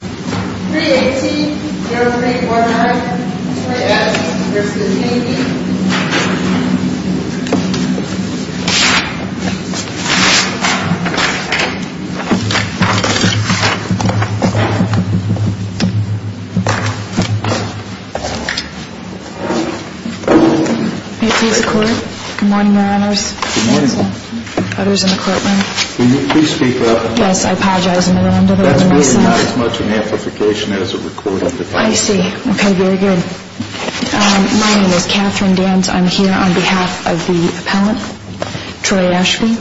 318-0349-20S v. D.B. May it please the Court. Good morning, Your Honors. Good morning. Others in the courtroom. Will you please speak up? Yes, I apologize in the name of my son. This is not as much an amplification as a recording. I see. Okay, very good. My name is Catherine Danz. I'm here on behalf of the appellant, Troy Ashby.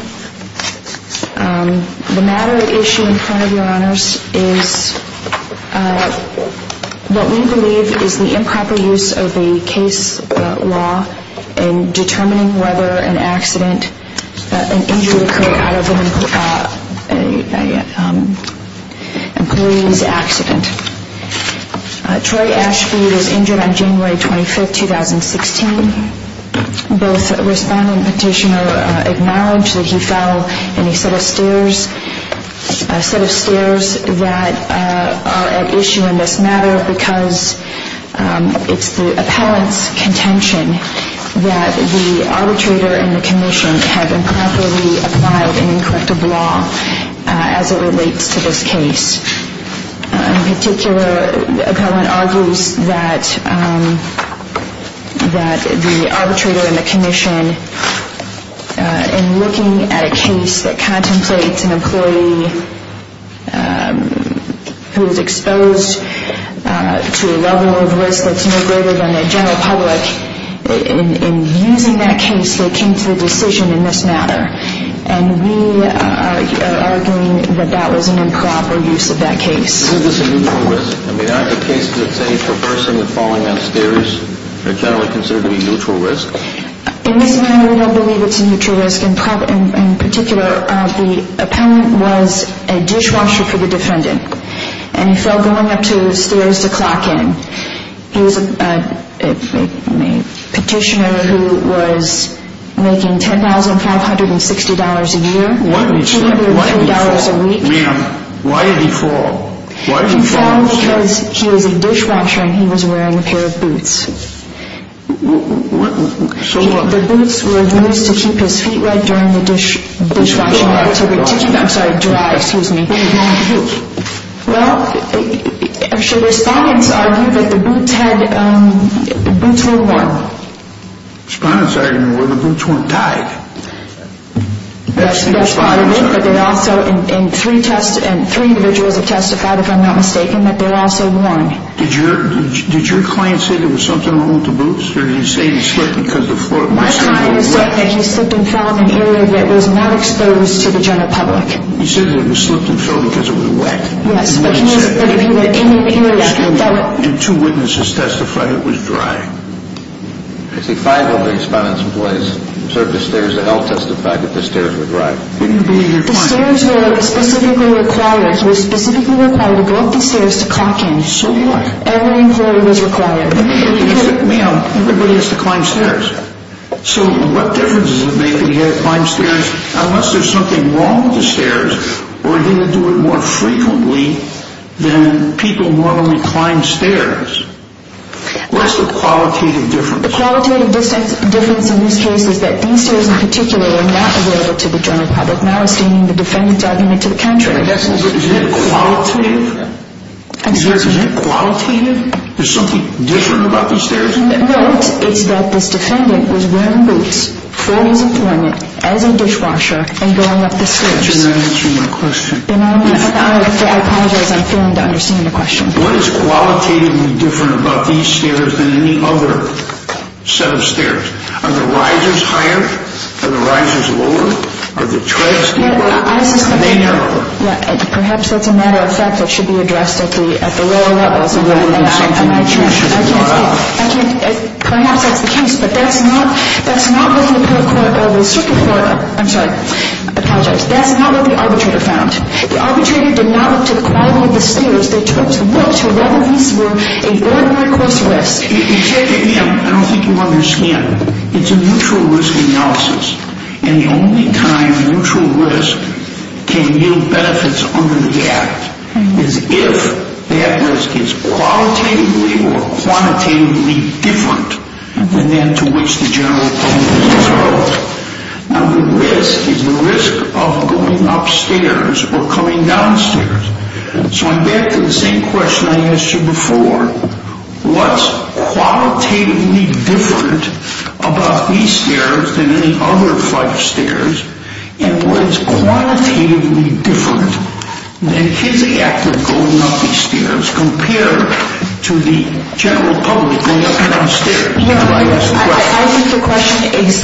The matter at issue in front of Your Honors is what we believe is the improper use of the case law in determining whether an injury occurred out of an employee's accident. Troy Ashby was injured on January 25, 2016. Both respondent and petitioner acknowledged that he fell in a set of stairs that are at issue in this matter because it's the appellant's contention that the arbitrator and the commission have improperly applied an incorrective law as it relates to this case. In particular, the appellant argues that the arbitrator and the commission, in looking at a case that contemplates an employee who is exposed to a level of risk that's no greater than the general public, in using that case, they came to the decision in this matter. And we are arguing that that was an improper use of that case. Is this a neutral risk? I mean, aren't the cases that say traversing and falling down stairs generally considered to be neutral risks? In this matter, we don't believe it's a neutral risk. In particular, the appellant was a dishwasher for the defendant and he fell going up to the stairs to clock in. He was a petitioner who was making $10,560 a year. Why did he fall? Ma'am, why did he fall? He fell because he was a dishwasher and he was wearing a pair of boots. So what? The boots were used to keep his feet wet during the dishwashing activity. I'm sorry, dry, excuse me. What did he want to do? Well, the respondents argued that the boots were worn. Respondents argued that the boots weren't tied. That's part of it, but they also, and three individuals have testified, if I'm not mistaken, that they're also worn. Did your client say there was something wrong with the boots or did he say he slipped because the floor was wet? My client said that he slipped and fell in an area that was not exposed to the general public. He said that he slipped and fell because it was wet. Yes, but he said that if he were in an area that was dry. And two witnesses testified it was dry. I see five of the respondents in place served the stairs to help testify that the stairs were dry. Did you believe your client? The stairs were specifically required to go up the stairs to clock in. So what? Every employee was required. Ma'am, everybody has to climb stairs. So what difference does it make that he had to climb stairs? Unless there's something wrong with the stairs, we're going to do it more frequently than people normally climb stairs. What's the qualitative difference? The qualitative difference in this case is that these stairs in particular were not available to the general public, not astaining the defendant's argument to the contrary. Is that qualitative? Excuse me? Is that qualitative? There's something different about these stairs? No, it's that this defendant was wearing boots for his employment as a dishwasher and going up the stairs. You're not answering my question. I apologize. I'm failing to understand your question. What is qualitatively different about these stairs than any other set of stairs? Are the risers higher? Are the risers lower? Are the treads deeper? Are they narrower? Perhaps that's a matter of fact that should be addressed at the lower levels. Perhaps that's the case, but that's not what the circuit court – I'm sorry, I apologize. That's not what the arbitrator found. The arbitrator did not look to the quality of the stairs. They looked to whether these were an ordinary course of risk. I don't think you understand. It's a mutual risk analysis, and the only time mutual risk can yield benefits under the Act is if that risk is qualitatively or quantitatively different than that to which the general public controls. Now, the risk is the risk of going upstairs or coming downstairs. So I'm back to the same question I asked you before. What's qualitatively different about these stairs than any other set of stairs? And what is quantitatively different? And is the act of going up these stairs compared to the general public going up and down stairs? I think the question is,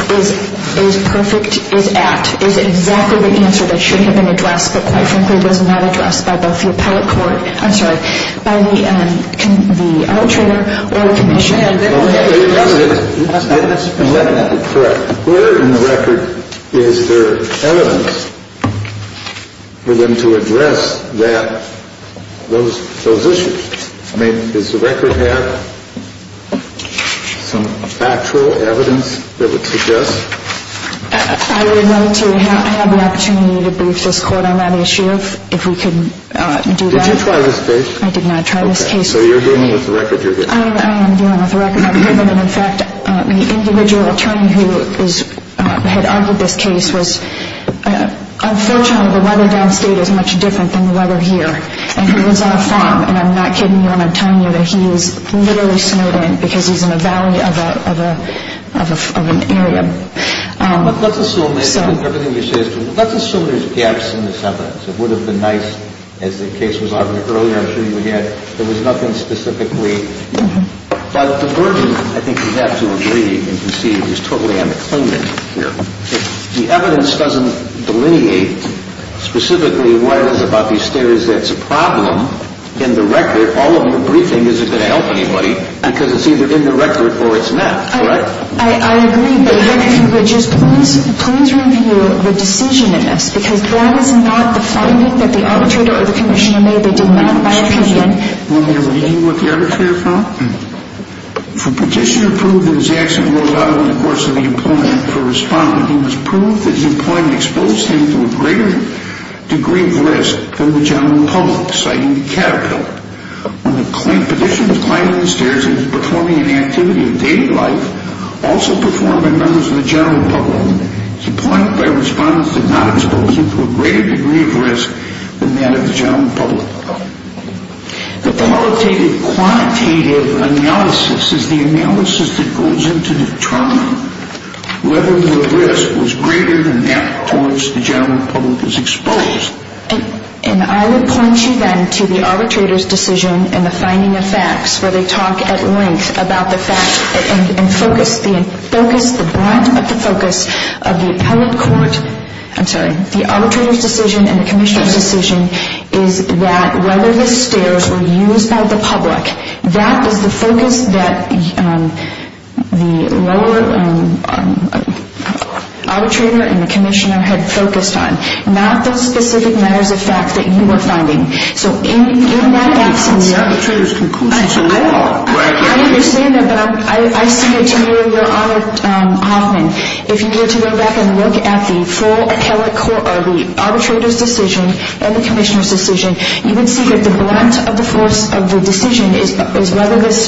is perfect, is apt, is exactly the answer that should have been addressed, but quite frankly, it was not addressed by both the appellate court – I'm sorry, by the arbitrator or the commission. Okay. You're correct. Where in the record is there evidence for them to address that – those issues? Does the record have some factual evidence that would suggest? I would like to have the opportunity to brief this court on that issue, if we could do that. Did you try this case? I did not try this case. Okay. So you're dealing with the record you're giving? I am dealing with the record I'm giving, and in fact, the individual attorney who had argued this case was – unfortunately, the weather downstate is much different than the weather here, and he lives on a farm, and I'm not kidding you when I'm telling you that he is literally snowed in because he's in a valley of an area. Let's assume – I think everything you're saying is true. Let's assume there's gaps in this evidence. It would have been nice, as the case was argued earlier, I'm sure you would have, if there was nothing specifically – but the version I think you'd have to agree and concede is totally unacclaimed here. If the evidence doesn't delineate specifically what it is about these stairs that's a problem, in the record, all of the briefing isn't going to help anybody because it's either in the record or it's not, correct? I agree, but what I think would just – please review the decision in this, because that is not the finding that the arbitrator or the commissioner made. They did not, in my opinion – When you're reading what the arbitrator found? For Petitioner to prove that his actions were allowed in the course of the employment for a respondent, he must prove that his employment exposed him to a greater degree of risk than the general public, citing the Caterpillar. When Petitioner was climbing the stairs and was performing an activity of daily life, also performed by members of the general public, his employment by a respondent did not expose him to a greater degree of risk than that of the general public. The qualitative, quantitative analysis is the analysis that goes into determining whether the risk was greater than that towards the general public is exposed. And I would point you then to the arbitrator's decision and the finding of facts, where they talk at length about the fact and focus – the broad of the focus of the appellate court – I'm sorry – the arbitrator's decision and the commissioner's decision is that whether the stairs were used by the public. That is the focus that the lower arbitrator and the commissioner had focused on, not the specific matters of fact that you were finding. So in that absence – The arbitrator's conclusions are there. I understand that, but I see it to you, Your Honor Hoffman. If you were to go back and look at the full appellate court or the arbitrator's decision and the commissioner's decision, you would see that the brunt of the force of the decision is whether this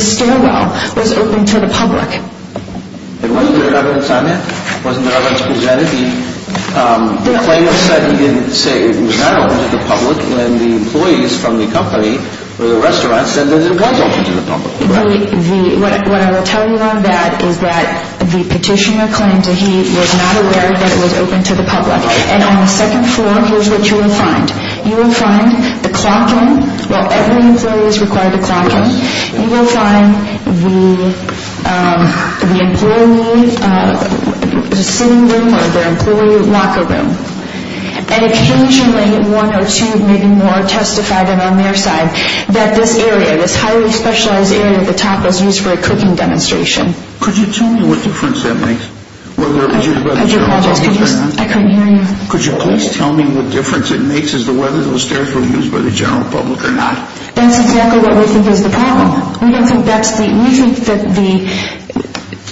stairwell was open to the public. There wasn't any evidence on that. There wasn't any evidence presented. The plaintiff said he didn't say it was not open to the public when the employees from the company or the restaurant said that it was open to the public. What I will tell you on that is that the petitioner claimed that he was not aware that it was open to the public. And on the second floor, here's what you will find. You will find the clock room. While every employee is required to clock in, you will find the employee sitting room or the employee locker room. And occasionally one or two, maybe more, testified on their side that this area, this highly specialized area at the top, was used for a cooking demonstration. Could you tell me what difference that makes? I apologize, I couldn't hear you. Could you please tell me what difference it makes as to whether those stairs were used by the general public or not? That's exactly what we think is the problem.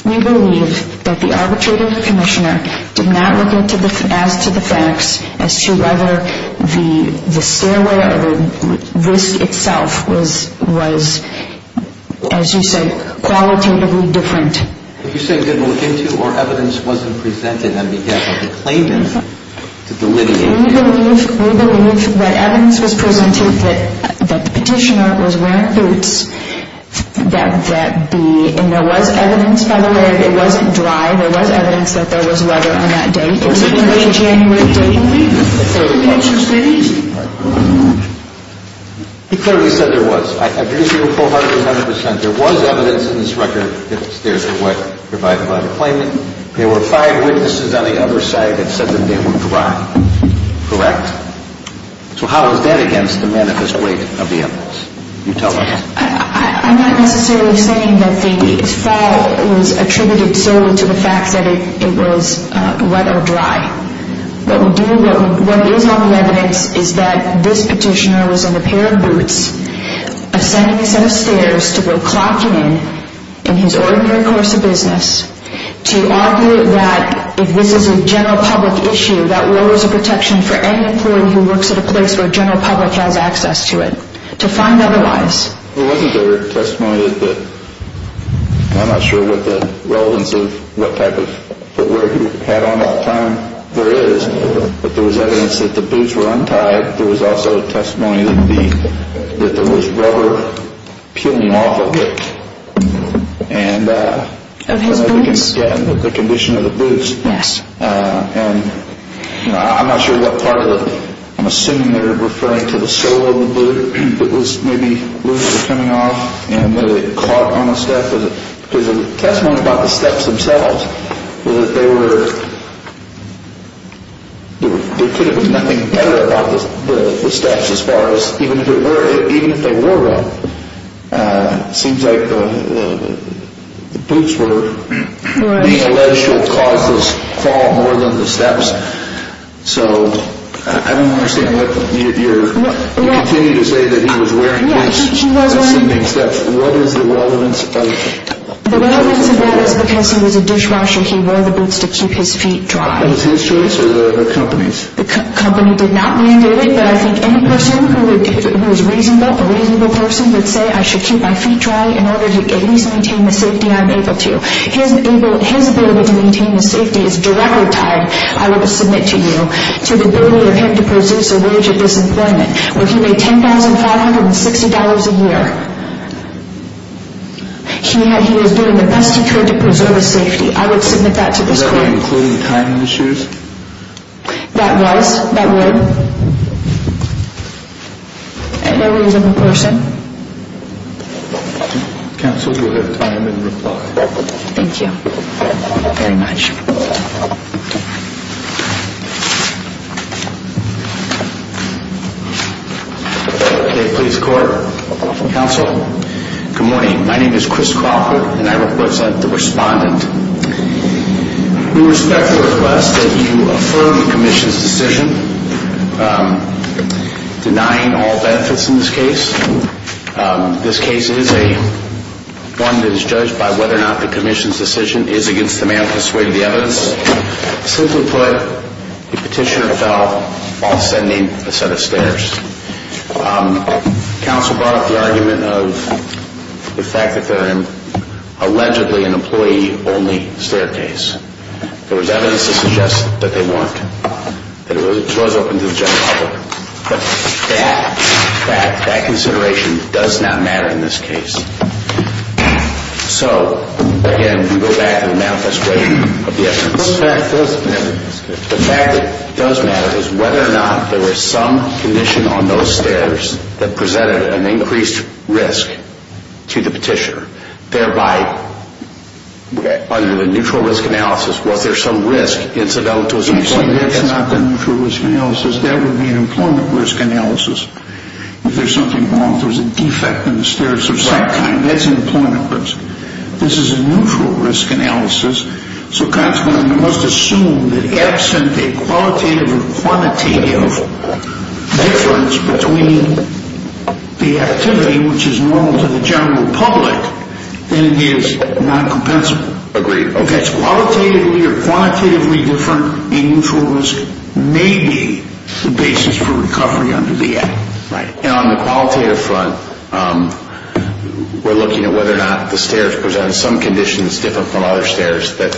We believe that the arbitrator and the commissioner did not look as to the facts as to whether the stairway or the risk itself was, as you said, qualitatively different. Are you saying they didn't look into or evidence wasn't presented on behalf of the plaintiff to delineate? We believe that evidence was presented that the petitioner was wearing boots. And there was evidence, by the way, it wasn't dry. There was evidence that there was weather on that day. It was January 18th. He clearly said there was. I agree with you 100%. There was evidence in this record that the stairs were wet provided by the plaintiff. There were five witnesses on the other side that said that they were dry. Correct? So how is that against the manifest weight of the evidence? You tell us. I'm not necessarily saying that the fall was attributed solely to the fact that it was wet or dry. What is on the evidence is that this petitioner was in a pair of boots ascending a set of stairs to go clocking in in his ordinary course of business to argue that if this is a general public issue, that we're always a protection for any employee who works at a place where general public has access to it. To find otherwise. There wasn't a testimony that I'm not sure what the relevance of what type of footwear he had on at the time there is. But there was evidence that the boots were untied. There was also testimony that there was rubber peeling off of it. Of his boots? Again, the condition of the boots. Yes. And I'm not sure what part of it. I'm assuming they're referring to the sole of the boot that was maybe loose or coming off and that it clogged on the step. There's a testimony about the steps themselves. There could have been nothing better about the steps as far as even if they wore them. It seems like the boots were being alleged to have caused this fall more than the steps. So I don't understand what you're. You continue to say that he was wearing boots. What is the relevance of that? The relevance of that is because he was a dishwasher. He wore the boots to keep his feet dry. It was his choice or the company's? The company did not mandate it, but I think any person who is reasonable, a reasonable person, would say I should keep my feet dry in order to at least maintain the safety I'm able to. His ability to maintain the safety is directly tied, I would submit to you, to the ability of him to produce a wage of this employment where he made $10,560 a year. He was doing the best he could to preserve his safety. I would submit that to this court. Is that including time issues? That was. That would. A reasonable person. Counsel, do you have time in reply? Thank you very much. Okay, please court. Counsel, good morning. My name is Chris Crawford and I represent the respondent. We respect the request that you affirm the commission's decision denying all benefits in this case. This case is one that is judged by whether or not the commission's decision is against the man who persuaded the evidence. Simply put, the petitioner fell while ascending a set of stairs. Counsel brought up the argument of the fact that they're allegedly an employee-only staircase. There was evidence to suggest that they weren't. It was open to the general public. But that consideration does not matter in this case. So, again, we go back to the manifest way of the evidence. The fact that it does matter in this case. The fact that it does matter is whether or not there was some condition on those stairs that presented an increased risk to the petitioner. Thereby, under the neutral risk analysis, was there some risk incidental to his decision? That's not the neutral risk analysis. That would be an employment risk analysis. If there's something wrong, if there's a defect in the stairs of some kind, that's an employment risk. This is a neutral risk analysis. So, consequently, we must assume that absent a qualitative or quantitative difference between the activity, which is normal to the general public, then it is non-compensable. Agreed. If it's qualitatively or quantitatively different, a neutral risk may be the basis for recovery under the Act. Right. And on the qualitative front, we're looking at whether or not the stairs present some conditions different from other stairs that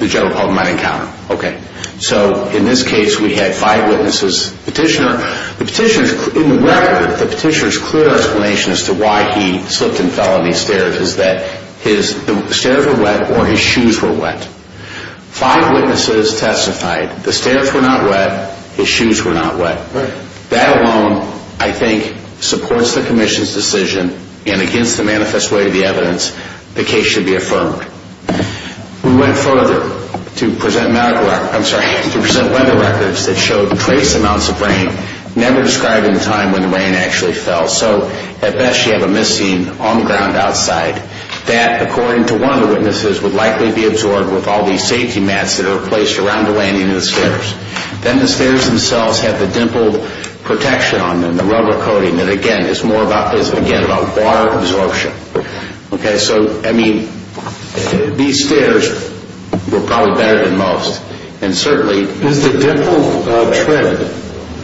the general public might encounter. Okay. So, in this case, we had five witnesses. In the record, the petitioner's clear explanation as to why he slipped and fell on these stairs is that the stairs were wet or his shoes were wet. Five witnesses testified the stairs were not wet, his shoes were not wet. Right. That alone, I think, supports the Commission's decision, and against the manifest way of the evidence, the case should be affirmed. We went further to present weather records that showed trace amounts of rain never described in time when the rain actually fell. So, at best, you have a missing on the ground outside that, according to one of the witnesses, would likely be absorbed with all these safety mats that are placed around the landing of the stairs. Then the stairs themselves have the dimpled protection on them, the rubber coating, that, again, is more about water absorption. Okay, so, I mean, these stairs were probably better than most, and certainly Is the dimpled tread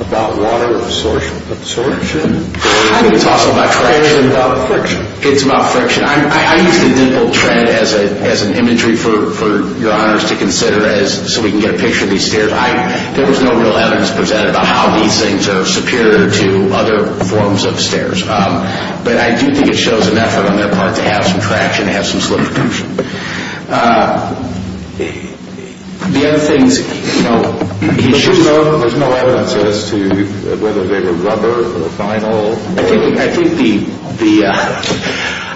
about water absorption? I think it's also about friction. It's about friction. It's about friction. I use the dimpled tread as an imagery for your honors to consider so we can get a picture of these stairs. There was no real evidence presented about how these things are superior to other forms of stairs. But I do think it shows an effort on their part to have some traction, to have some slip protection. The other thing is, you know, there's no evidence as to whether they were rubber or vinyl.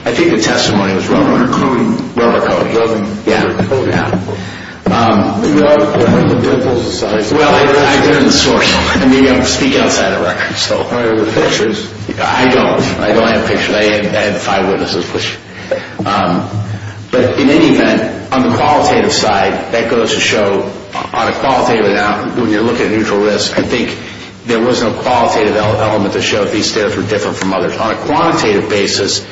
I think the testimony was rubber coating. Rubber coating. Rubber coating. Yeah, yeah. The dimples aside. Well, I've been in the source. I mean, I speak outside of records, so. I don't. I don't have pictures. I had five witnesses. But in any event, on the qualitative side, that goes to show, on a qualitative amount, when you look at a neutral risk, I think there was no qualitative element to show that these stairs were different from others. On a quantitative basis,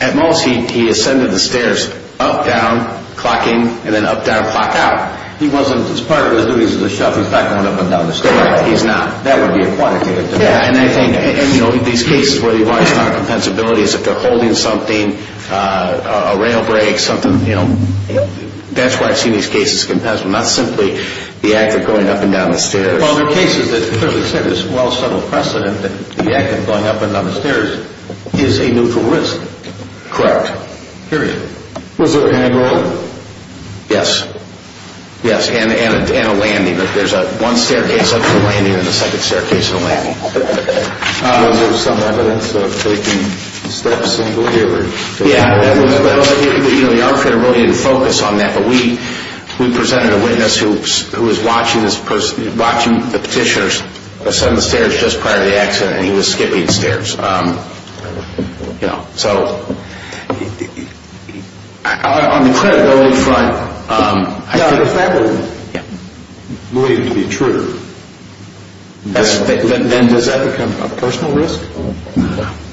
at most, he ascended the stairs up, down, clock in, and then up, down, clock out. He wasn't. His part was that he was a chef. He's not going up and down the stairs. He's not. That would be a quantitative. Yeah, and I think, you know, these cases where you want to talk about compensability is if they're holding something, a rail break, something, you know. That's why I've seen these cases of compensation. Not simply the act of going up and down the stairs. Well, there are cases that, as you said, there's a well-settled precedent that the act of going up and down the stairs is a neutral risk. Correct. Period. Was there a handrail? Yes. Yes, and a landing. There's one staircase up to the landing and a second staircase to the landing. Was there some evidence of taking steps in delivery? Yeah. You know, the arbitrator really didn't focus on that, but we presented a witness who was watching the petitioner ascend the stairs just prior to the accident, and he was skipping stairs, you know. So on the credibility front, I think. Well, if that were believed to be true, then does that become a personal risk?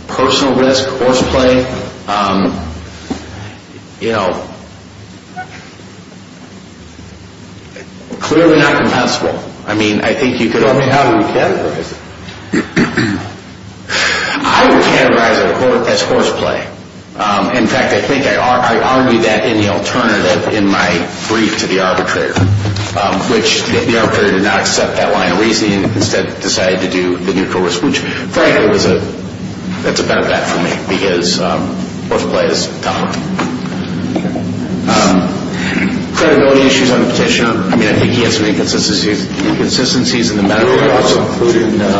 Personal risk, horseplay, you know, clearly not compensable. I mean, I think you could... Tell me how you would categorize it. I would categorize it as horseplay. In fact, I think I argued that in the alternative in my brief to the arbitrator, which the arbitrator did not accept that line of reasoning and instead decided to do the neutral risk, which, frankly, that's a better bet for me because horseplay is tougher. Credibility issues on the petitioner. I mean, I think he has some inconsistencies in the medical process. Well, including the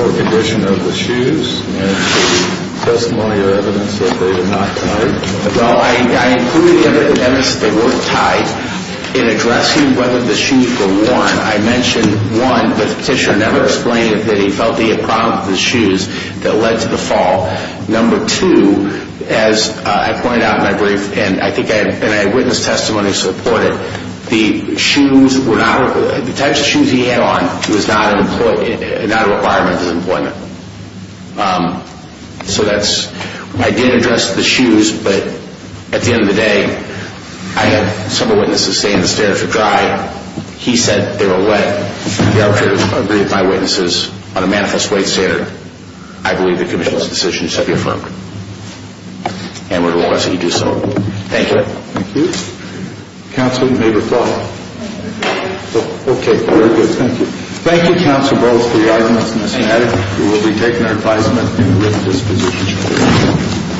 poor condition of the shoes and the testimony or evidence that they were not tied. Well, I included the evidence that they weren't tied in addressing whether the shoes were worn. I mentioned, one, that the petitioner never explained that he felt he had problems with the shoes that led to the fall. Number two, as I pointed out in my brief, and I think I had witness testimony to support it, the types of shoes he had on was not a requirement of his employment. So that's... I did address the shoes, but at the end of the day, I had some of the witnesses saying the standards were dry. He said they were wet. The arbitrator agreed with my witnesses on a manifest weight standard. I believe the commission's decisions have been affirmed, and we're going to let you do so. Thank you. Thank you. Counsel, you made a call. I made a call. Okay, very good. Thank you. Thank you, Counsel Wells, for your arguments in this matter. You will be taken under advisement in the written disposition.